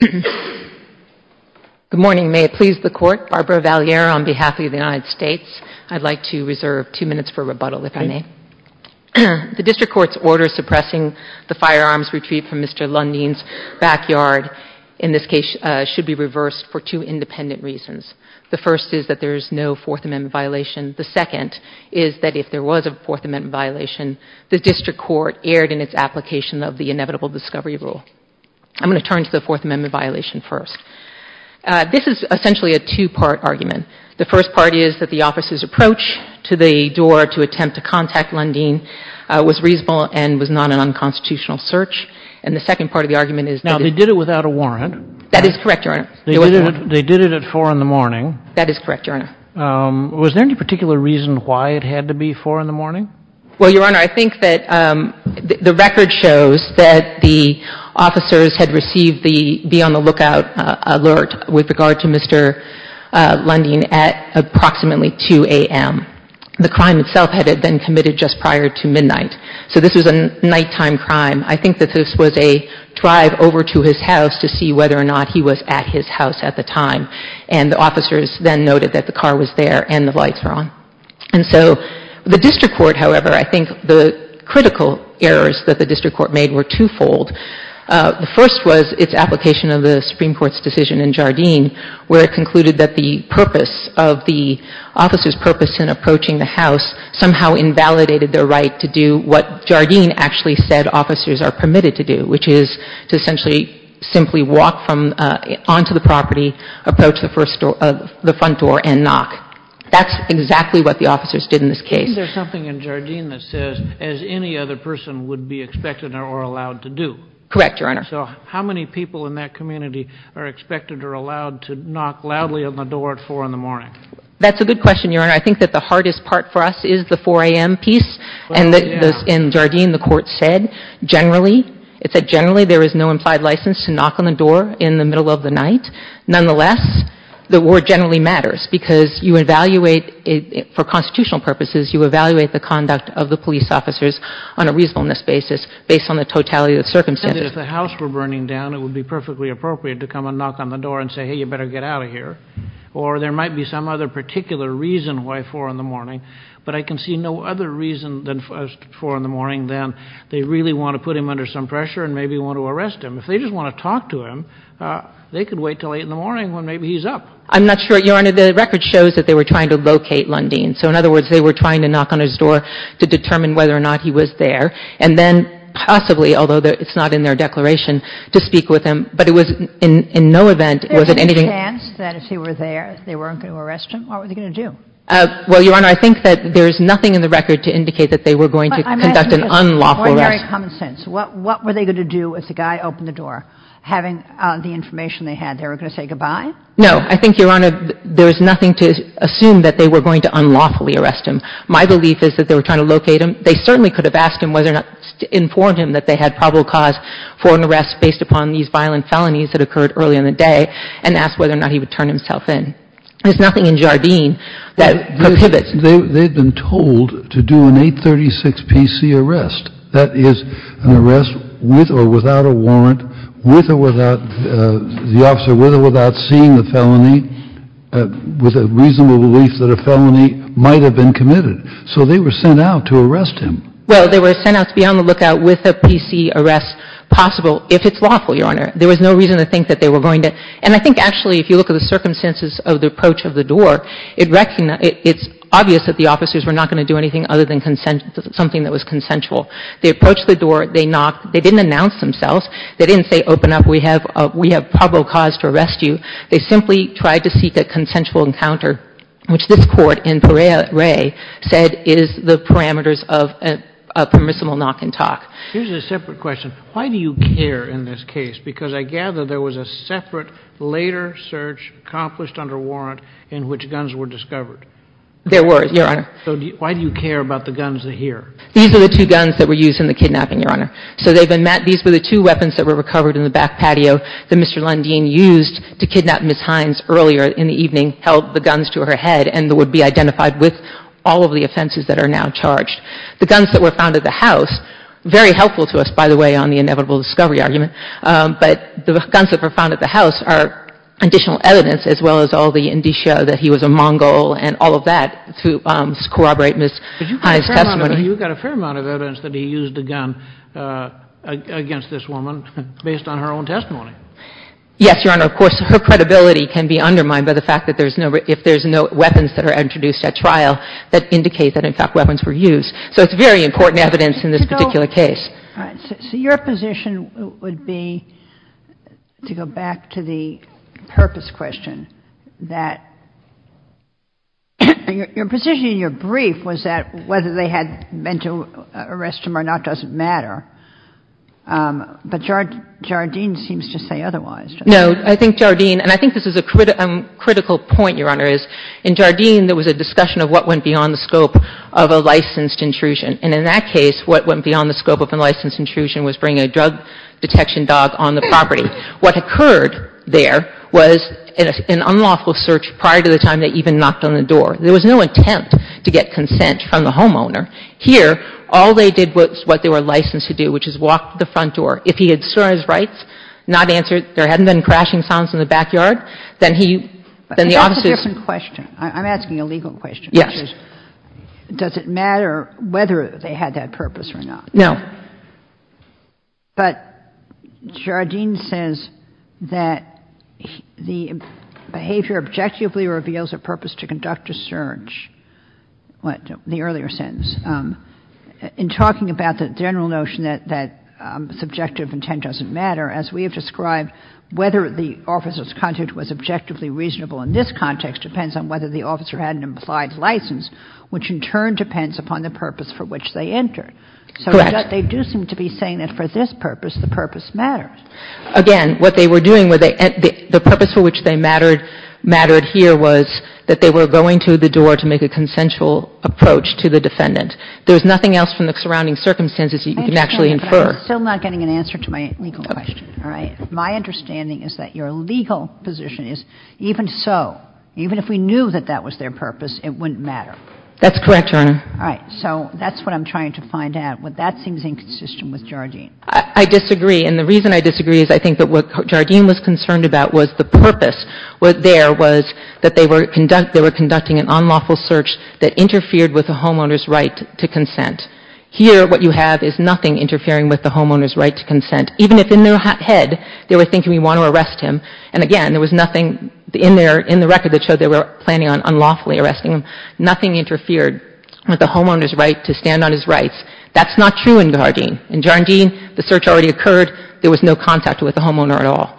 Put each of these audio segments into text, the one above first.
Good morning, may it please the Court, Barbara Valliere on behalf of the United States. I'd like to reserve two minutes for rebuttal, if I may. The District Court's order suppressing the firearms retrieved from Mr. Lundin's backyard in this case should be reversed for two independent reasons. The first is that there is no Fourth Amendment violation. The second is that if there was a Fourth Amendment violation, the District Court erred in its application of the inevitable discovery rule. I'm going to turn to the Fourth Amendment violation first. This is essentially a two-part argument. The first part is that the office's approach to the door to attempt to contact Lundin was reasonable and was not an unconstitutional search. And the second part of the argument is that it's Now, they did it without a warrant. That is correct, Your Honor. They did it at 4 in the morning. That is correct, Your Honor. Was there any particular reason why it had to be 4 in the morning? Well, Your Honor, I think that the record shows that the officers had received the be on the lookout alert with regard to Mr. Lundin at approximately 2 a.m. The crime itself had been committed just prior to midnight. So this was a nighttime crime. I think that this was a drive over to his house to see whether or not he was at his house at the time. And the officers then noted that the car was there and the lights were on. And so the district court, however, I think the critical errors that the district court made were twofold. The first was its application of the Supreme Court's decision in Jardine where it concluded that the purpose of the officer's purpose in approaching the house somehow invalidated their right to do what Jardine actually said officers are permitted to do, which is to essentially simply walk from onto the property, approach the front door and knock. That's exactly what the officers did in this case. Is there something in Jardine that says, as any other person would be expected or allowed to do? Correct, Your Honor. So how many people in that community are expected or allowed to knock loudly on the door at 4 in the morning? That's a good question, Your Honor. I think that the hardest part for us is the 4 a.m. piece and that in Jardine the court said generally, it said generally there is no implied license to knock on the door in the middle of the night. Nonetheless, the word generally matters because you evaluate, for constitutional purposes, you evaluate the conduct of the police officers on a reasonableness basis based on the totality of the circumstances. And if the house were burning down, it would be perfectly appropriate to come and knock on the door and say, hey, you better get out of here. Or there might be some other particular reason why 4 in the morning, but I can see no other reason than 4 in the morning than they really want to put him under some pressure and maybe want to arrest him. If they just want to talk to him, they could wait until 8 in the morning when maybe he's up. I'm not sure, Your Honor. The record shows that they were trying to locate Lundin. So in other words, they were trying to knock on his door to determine whether or not he was there, and then possibly, although it's not in their declaration, to speak with him. But it was in no event was it anything — There was a chance that if he were there, they weren't going to arrest him. What were they going to do? Well, Your Honor, I think that there is nothing in the record to indicate that they were going to conduct an unlawful arrest. That's very common sense. What were they going to do if the guy opened the door? Having the information they had, they were going to say goodbye? No. I think, Your Honor, there is nothing to assume that they were going to unlawfully arrest him. My belief is that they were trying to locate him. They certainly could have asked him whether or not to inform him that they had probable cause for an arrest based upon these violent felonies that occurred early in the day, and asked whether or not he would turn himself in. There's nothing in Jardine that prohibits. They've been told to do an 836 PC arrest. That is, an arrest with or without a warrant, with or without the officer, with or without seeing the felony, with a reasonable belief that a felony might have been committed. So they were sent out to arrest him. Well, they were sent out to be on the lookout with a PC arrest possible, if it's lawful, Your Honor. There was no reason to think that they were going to. And I think, actually, if you look at the circumstances of the approach of the door, it's obvious that the officers were not going to do anything other than something that was consensual. They approached the door. They knocked. They didn't announce themselves. They didn't say, open up. We have probable cause to arrest you. They simply tried to seek a consensual encounter, which this Court in Parea Ray said is the parameters of a permissible knock and talk. Here's a separate question. Why do you care in this case? Because I gather there was a separate later search accomplished under warrant in which guns were discovered. There were, Your Honor. So why do you care about the guns here? These are the two guns that were used in the kidnapping, Your Honor. So they've been met. These were the two weapons that were recovered in the back patio that Mr. Lundeen used to kidnap Ms. Hines earlier in the evening, held the guns to her head, and would be identified with all of the offenses that are now charged. The guns that were found at the house, very helpful to us, by the way, on the inevitable discovery argument, but the guns that were found at the house are additional evidence, as well as all the indicia that he was a Mongol and all of that, to corroborate Ms. Hines' testimony. But you've got a fair amount of evidence that he used a gun against this woman based on her own testimony. Yes, Your Honor. Of course, her credibility can be undermined by the fact that there's no, if there's no weapons that are introduced at trial that indicate that, in fact, weapons were used. So it's very important evidence in this particular case. All right. So your position would be, to go back to the purpose question, that your position in your brief was that whether they had meant to arrest him or not doesn't matter. But Jardine seems to say otherwise. No. I think Jardine, and I think this is a critical point, Your Honor, is in Jardine there was a discussion of what went beyond the scope of a licensed intrusion. And in that case, what went beyond the scope of a licensed intrusion was bringing a drug detection dog on the property. What occurred there was an unlawful search prior to the time they even knocked on the door. There was no attempt to get consent from the homeowner. Here, all they did was what they were licensed to do, which is walk to the front door. If he had sworn his rights, not answered, there hadn't been crashing sounds in the backyard, then he, then the officers ---- But that's a different question. I'm asking a legal question. Does it matter whether they had that purpose or not? No. But Jardine says that the behavior objectively reveals a purpose to conduct a search, the earlier sentence. In talking about the general notion that subjective intent doesn't matter, as we have described, whether the officer's content was objectively reasonable in this context depends on whether the officer had an implied license, which in turn depends upon the purpose for which they entered. Correct. So they do seem to be saying that for this purpose, the purpose mattered. Again, what they were doing, the purpose for which they mattered here was that they were going to the door to make a consensual approach to the defendant. There's nothing else from the surrounding circumstances you can actually infer. I understand, but I'm still not getting an answer to my legal question. Okay. All right. My understanding is that your legal position is even so, even if we knew that that was their purpose, it wouldn't matter. That's correct, Your Honor. All right. So that's what I'm trying to find out. That seems inconsistent with Jardine. I disagree. And the reason I disagree is I think that what Jardine was concerned about was the purpose there was that they were conducting an unlawful search that interfered with the homeowner's right to consent. Here, what you have is nothing interfering with the homeowner's right to consent, even if in their head they were thinking, we want to arrest him. And again, there was nothing in their record that showed they were planning on unlawfully arresting him. Nothing interfered with the homeowner's right to stand on his rights. That's not true in Jardine. In Jardine, the search already occurred. There was no contact with the homeowner at all.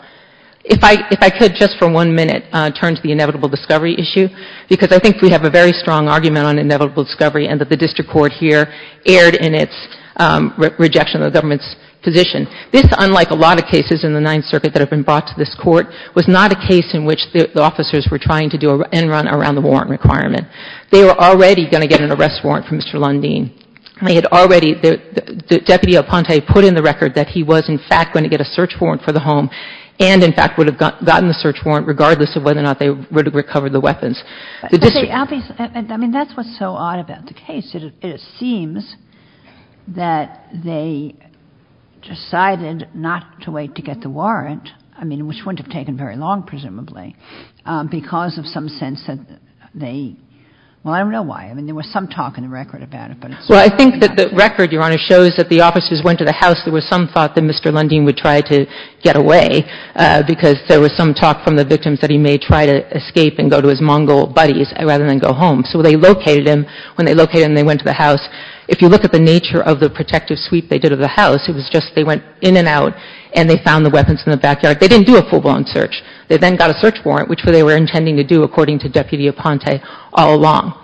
If I could just for one minute turn to the inevitable discovery issue, because I think we have a very strong argument on inevitable discovery and that the district court here erred in its rejection of the government's position. This, unlike a lot of cases in the Ninth Circuit that have been brought to this court, was not a case in which the officers were trying to do an end-run around the warrant requirement. They were already going to get an arrest warrant from Mr. Lundeen. They had already – Deputy Aponte put in the record that he was, in fact, going to get a search warrant for the home and, in fact, would have gotten the search warrant regardless of whether or not they would have recovered the weapons. The district – I mean, that's what's so odd about the case. It seems that they decided not to wait to get the warrant, I mean, which wouldn't have taken very long, presumably, because of some sense that they – well, I don't know why. I mean, there was some talk in the record about it, but it's – Well, I think that the record, Your Honor, shows that the officers went to the house. There was some thought that Mr. Lundeen would try to get away because there was some thought from the victims that he may try to escape and go to his Mongol buddies rather than go home. So they located him. When they located him, they went to the house. If you look at the nature of the protective sweep they did of the house, it was just they went in and out and they found the weapons in the backyard. They didn't do a full-blown search. They then got a search warrant, which is what they were intending to do, according to Deputy Aponte, all along.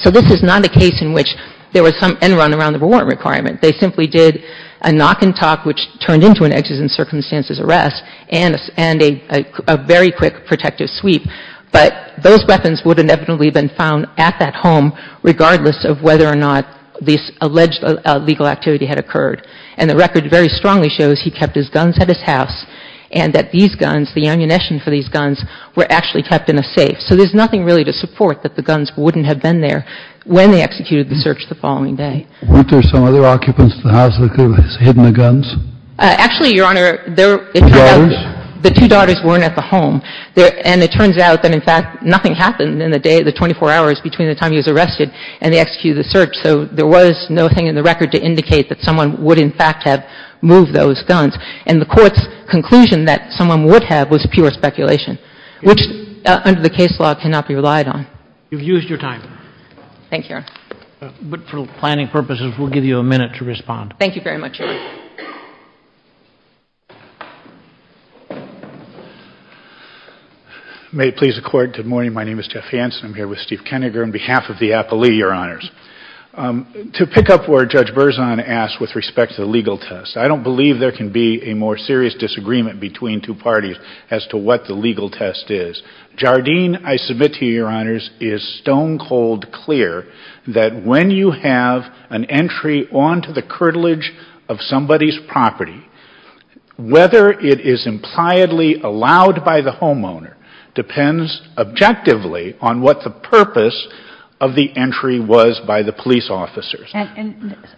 So this is not a case in which there was some end-run around the warrant requirement. They simply did a knock and talk, which turned into an exes and circumstances arrest and a very quick protective sweep. But those weapons would inevitably have been found at that home regardless of whether or not this alleged illegal activity had occurred. And the record very strongly shows he kept his guns at his house and that these guns, the ammunition for these guns, were actually kept in a safe. So there's nothing really to support that the guns wouldn't have been there when they executed the search the following day. Weren't there some other occupants in the house that could have hidden the guns? Actually, Your Honor, the two daughters weren't at the home. And it turns out that, in fact, nothing happened in the day, the 24 hours between the time he was arrested and they executed the search. So there was no thing in the record to indicate that someone would, in fact, have moved those guns. And the Court's conclusion that someone would have was pure speculation, which under the case law cannot be relied on. You've used your time. Thank you, Your Honor. But for planning purposes, we'll give you a minute to respond. Thank you very much, Your Honor. May it please the Court, good morning. My name is Jeff Hanson. I'm here with Steve Kennegar on behalf of the appellee, Your Honors. To pick up where Judge Berzon asked with respect to the legal test, I don't believe there can be a more serious disagreement between two parties as to what the legal test is. Jardine, I submit to you, Your Honors, is stone cold clear that when you have an arrest warrant on somebody's property, whether it is impliedly allowed by the homeowner depends objectively on what the purpose of the entry was by the police officers. All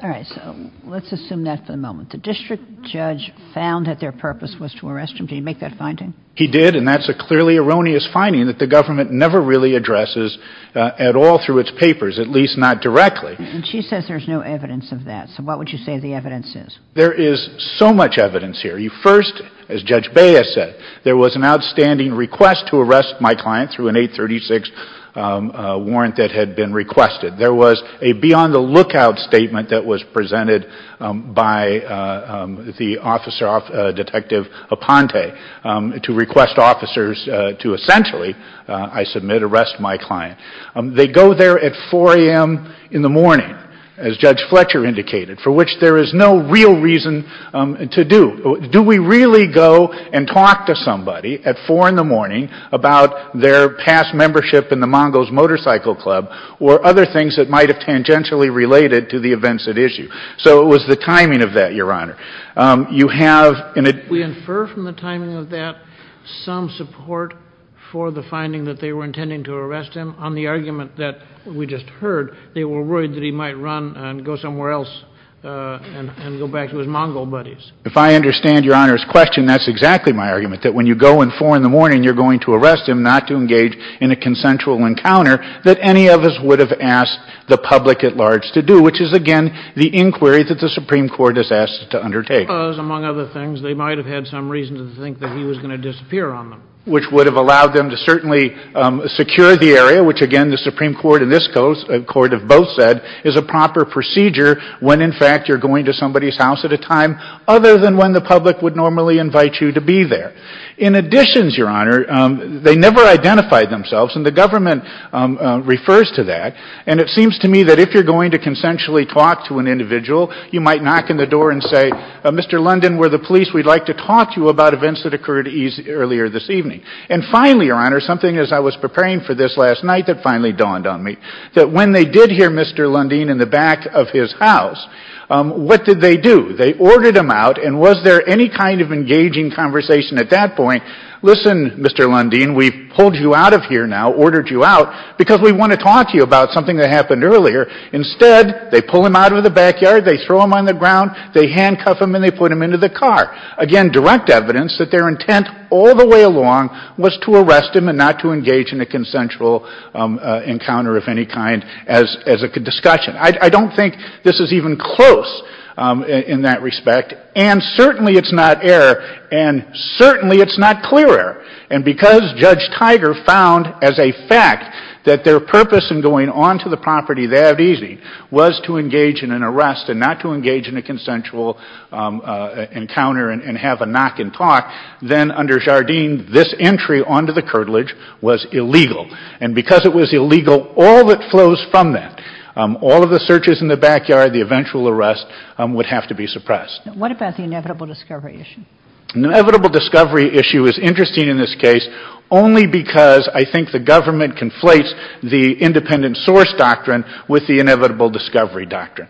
right. So let's assume that for the moment. The district judge found that their purpose was to arrest him. Did he make that finding? He did, and that's a clearly erroneous finding that the government never really addresses at all through its papers, at least not directly. And she says there's no evidence of that. So what would you say the evidence is? There is so much evidence here. First, as Judge Baez said, there was an outstanding request to arrest my client through an 836 warrant that had been requested. There was a beyond-the-lookout statement that was presented by the officer, Detective Aponte, to request officers to essentially, I submit, arrest my client. They go there at 4 a.m. in the morning, as Judge Fletcher indicated, for which there is no real reason to do. Do we really go and talk to somebody at 4 in the morning about their past membership in the Mongo's Motorcycle Club or other things that might have tangentially related to the events at issue? So it was the timing of that, Your Honor. You have an ad- We infer from the timing of that some support for the finding that they were in the argument that we just heard, they were worried that he might run and go somewhere else and go back to his Mongol buddies. If I understand Your Honor's question, that's exactly my argument, that when you go at 4 in the morning, you're going to arrest him not to engage in a consensual encounter that any of us would have asked the public at large to do, which is, again, the inquiry that the Supreme Court has asked to undertake. Because, among other things, they might have had some reason to think that he was going to disappear on them. Which would have allowed them to certainly secure the area, which, again, the Supreme Court and this Court have both said is a proper procedure when, in fact, you're going to somebody's house at a time other than when the public would normally invite you to be there. In addition, Your Honor, they never identified themselves, and the government refers to that. And it seems to me that if you're going to consensually talk to an individual, you might knock on the door and say, Mr. London, we're the police. We'd like to talk to you about events that occurred earlier this evening. And finally, Your Honor, something as I was preparing for this last night that finally dawned on me, that when they did hear Mr. Lundeen in the back of his house, what did they do? They ordered him out, and was there any kind of engaging conversation at that point, listen, Mr. Lundeen, we've pulled you out of here now, ordered you out, because we want to talk to you about something that happened earlier? Instead, they pull him out of the backyard, they throw him on the ground, they give him, again, direct evidence that their intent all the way along was to arrest him and not to engage in a consensual encounter of any kind as a discussion. I don't think this is even close in that respect, and certainly it's not error, and certainly it's not clear error. And because Judge Tiger found as a fact that their purpose in going on to the property that easy was to engage in an arrest and not to engage in a consensual encounter and have a knock and talk, then under Jardine, this entry onto the curtilage was illegal. And because it was illegal, all that flows from that, all of the searches in the backyard, the eventual arrest, would have to be suppressed. What about the inevitable discovery issue? The inevitable discovery issue is interesting in this case only because I think the government conflates the independent source doctrine with the inevitable discovery doctrine.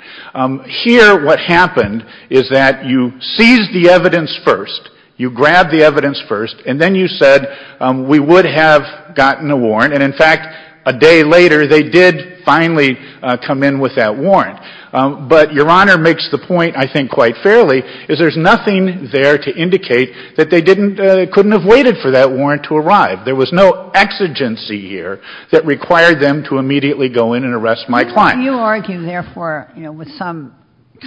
Here, what happened is that you seized the evidence first, you grabbed the evidence first, and then you said, we would have gotten a warrant, and in fact, a day later, they did finally come in with that warrant. But Your Honor makes the point, I think, quite fairly, is there's nothing there to indicate that they didn't, couldn't have waited for that warrant to arrive. There was no exigency here that required them to immediately go in and arrest my client. You argue, therefore, you know, with some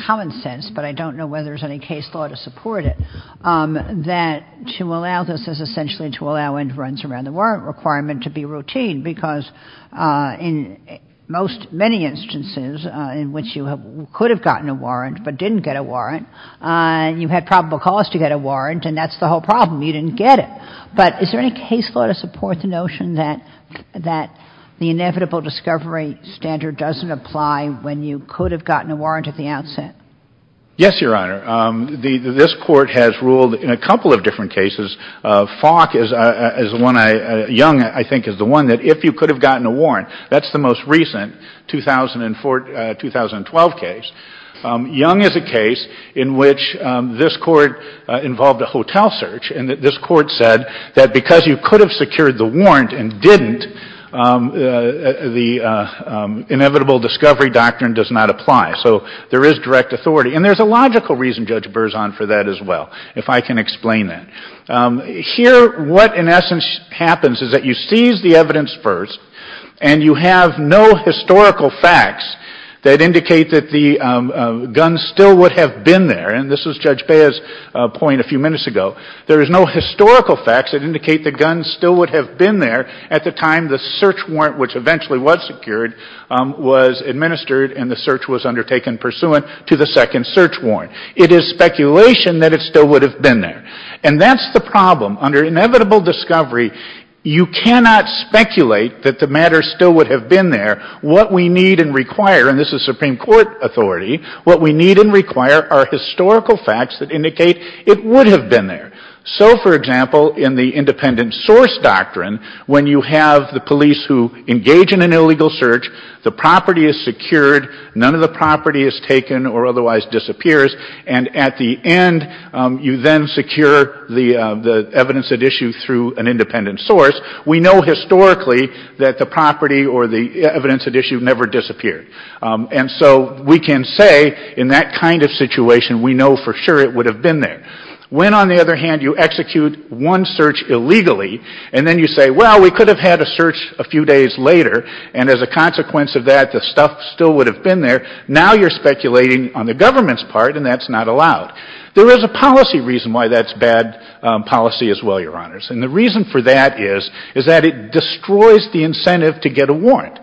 common sense, but I don't know whether there's any case law to support it, that to allow this is essentially to allow entrants around the warrant requirement to be routine, because in most many instances in which you could have gotten a warrant but didn't get a warrant, you had probable cause to get a warrant, and that's the whole problem. You didn't get it. But is there any case law to support the notion that the inevitable discovery standard doesn't apply when you could have gotten a warrant at the outset? Yes, Your Honor. This Court has ruled in a couple of different cases. Fock is one I — Young, I think, is the one that if you could have gotten a warrant — that's the most recent 2004 — 2012 case. Young is a case in which this Court involved a hotel search, and this Court said that because you could have secured the warrant and didn't, the inevitable discovery doctrine does not apply. So there is direct authority. And there's a logical reason, Judge Berzon, for that as well, if I can explain that. Here, what in essence happens is that you seize the evidence first, and you have no historical facts that indicate that the gun still would have been there. And this was Judge Bea's point a few minutes ago. There is no historical facts that indicate the gun still would have been there at the time the search warrant, which eventually was secured, was administered and the search was undertaken pursuant to the second search warrant. It is speculation that it still would have been there. And that's the problem. Under inevitable discovery, you cannot speculate that the matter still would have been there. What we need and require — and this is Supreme Court authority — what we need and require are historical facts that indicate it would have been there. So, for example, in the independent source doctrine, when you have the police who engage in an illegal search, the property is secured, none of the property is taken or otherwise disappears, and at the end, you then secure the evidence at issue through an independent source, we know historically that the property or the evidence at issue never disappeared. And so we can say in that kind of situation, we know for sure it would have been there. When, on the other hand, you execute one search illegally and then you say, well, we could have had a search a few days later and as a consequence of that, the stuff still would have been there, now you're speculating on the government's part and that's not allowed. There is a policy reason why that's bad policy as well, Your Honors. And the reason for that is, is that it destroys the incentive to get a warrant.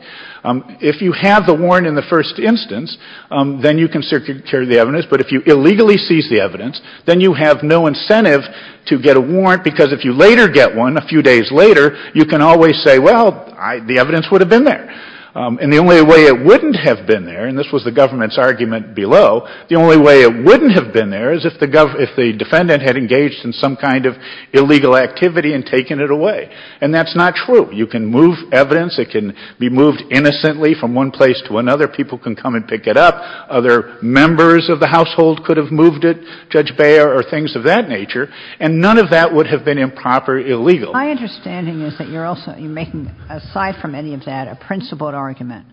If you have the warrant in the first instance, then you can secure the evidence. But if you illegally seize the evidence, then you have no incentive to get a warrant because if you later get one, a few days later, you can always say, well, the evidence would have been there. And the only way it wouldn't have been there, and this was the government's argument below, the only way it wouldn't have been there is if the defendant had engaged in some kind of illegal activity and taken it away. And that's not true. You can move evidence. It can be moved innocently from one place to another. People can come and pick it up. Other members of the household could have moved it, Judge Beyer or things of that nature, and none of that would have been improperly illegal. My understanding is that you're also making, aside from any of that, a principled argument,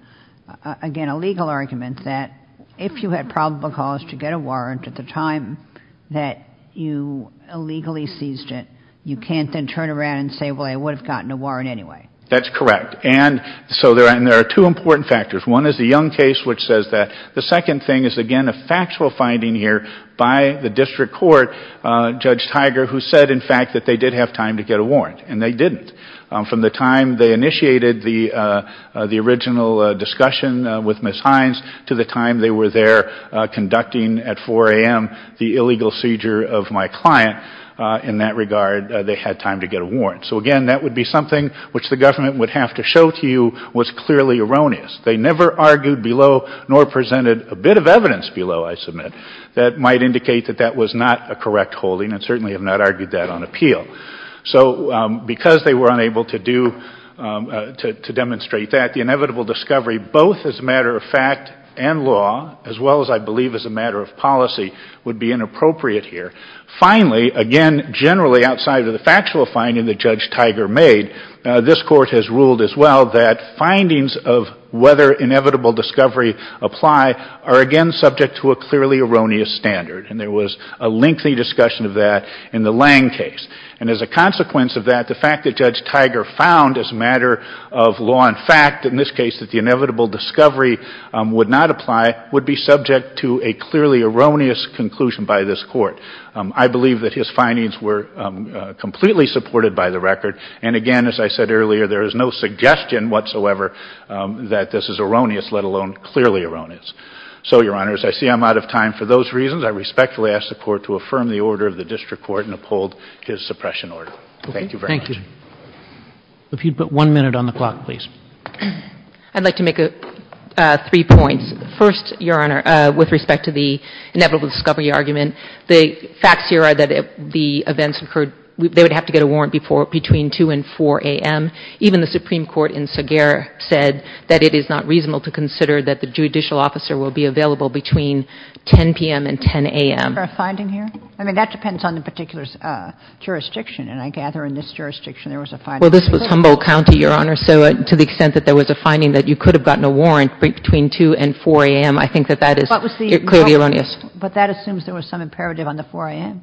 again, a legal argument that if you had probable cause to get a warrant at the time that you illegally seized it, you can't then turn around and say, well, I would have gotten a warrant anyway. That's correct. And so there are two important factors. One is the Young case, which says that. The second thing is, again, a factual finding here by the district court, Judge Tiger, who said, in fact, that they did have time to get a warrant, and they didn't. From the time they initiated the original discussion with Ms. Hines to the time they were there conducting at 4 a.m. the illegal seizure of my client, in that regard, they had time to get a warrant. So, again, that would be something which the government would have to show to you was clearly erroneous. They never argued below nor presented a bit of evidence below, I submit, that might indicate that that was not a correct holding and certainly have not argued that on appeal. So because they were unable to do, to demonstrate that, the inevitable discovery both as a matter of fact and law, as well as, I believe, as a matter of policy, would be inappropriate here. Finally, again, generally outside of the factual finding that Judge Tiger made, this Court has ruled as well that findings of whether inevitable discovery apply are, again, subject to a clearly erroneous standard. And there was a lengthy discussion of that in the Lange case. And as a consequence of that, the fact that Judge Tiger found as a matter of law and fact, in this case that the inevitable discovery would not apply, would be subject to a clearly erroneous conclusion by this Court. I believe that his findings were completely supported by the record. And again, as I said earlier, there is no suggestion whatsoever that this is erroneous, let alone clearly erroneous. So, Your Honor, as I see I'm out of time for those reasons, I respectfully ask the Court to affirm the order of the district court and uphold his suppression order. Thank you very much. Thank you. If you'd put one minute on the clock, please. I'd like to make three points. First, Your Honor, with respect to the inevitable discovery argument, the facts here are that the events occurred, they would have to get a warrant between 2 and 4 a.m. Even the Supreme Court in Sager said that it is not reasonable to consider that the judicial officer will be available between 10 p.m. and 10 a.m. Is there a finding here? I mean, that depends on the particular jurisdiction. And I gather in this jurisdiction there was a finding. Well, this was Humboldt County, Your Honor. So to the extent that there was a finding that you could have gotten a warrant between 2 and 4 a.m., I think that that is clearly erroneous. But that assumes there was some imperative on the 4 a.m.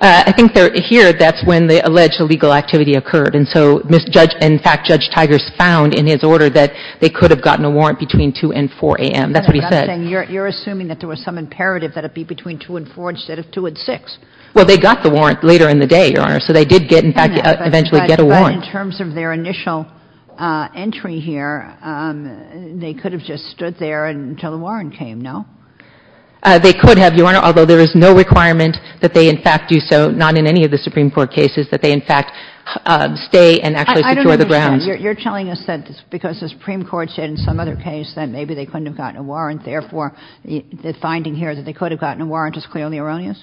I think here that's when the alleged illegal activity occurred. And so, in fact, Judge Tigers found in his order that they could have gotten a warrant between 2 and 4 a.m. That's what he said. You're assuming that there was some imperative that it be between 2 and 4 instead of 2 and 6. Well, they got the warrant later in the day, Your Honor. So they did get, in fact, eventually get a warrant. But in terms of their initial entry here, they could have just stood there until the warrant came, no? They could have, Your Honor, although there is no requirement that they, in fact, do so, not in any of the Supreme Court cases, that they, in fact, stay and actually secure the grounds. I don't understand. You're telling us that because the Supreme Court said in some other case that maybe they couldn't have gotten a warrant, therefore, the finding here that they could have gotten a warrant is clearly erroneous?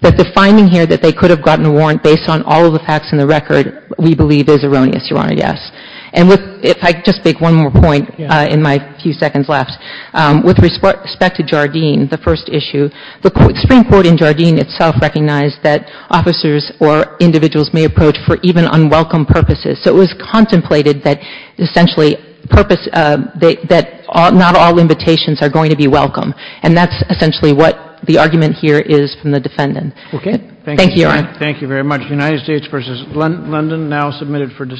That the finding here that they could have gotten a warrant based on all of the facts in the record we believe is erroneous, Your Honor, yes. And with — if I could just make one more point in my few seconds left. With respect to Jardine, the first issue, the Supreme Court in Jardine itself recognized that officers or individuals may approach for even unwelcome purposes. So it was contemplated that essentially purpose — that not all invitations are going to be welcome. And that's essentially what the argument here is from the defendant. Okay. Thank you, Your Honor. Thank you very much. United States v. London, now submitted for discussion.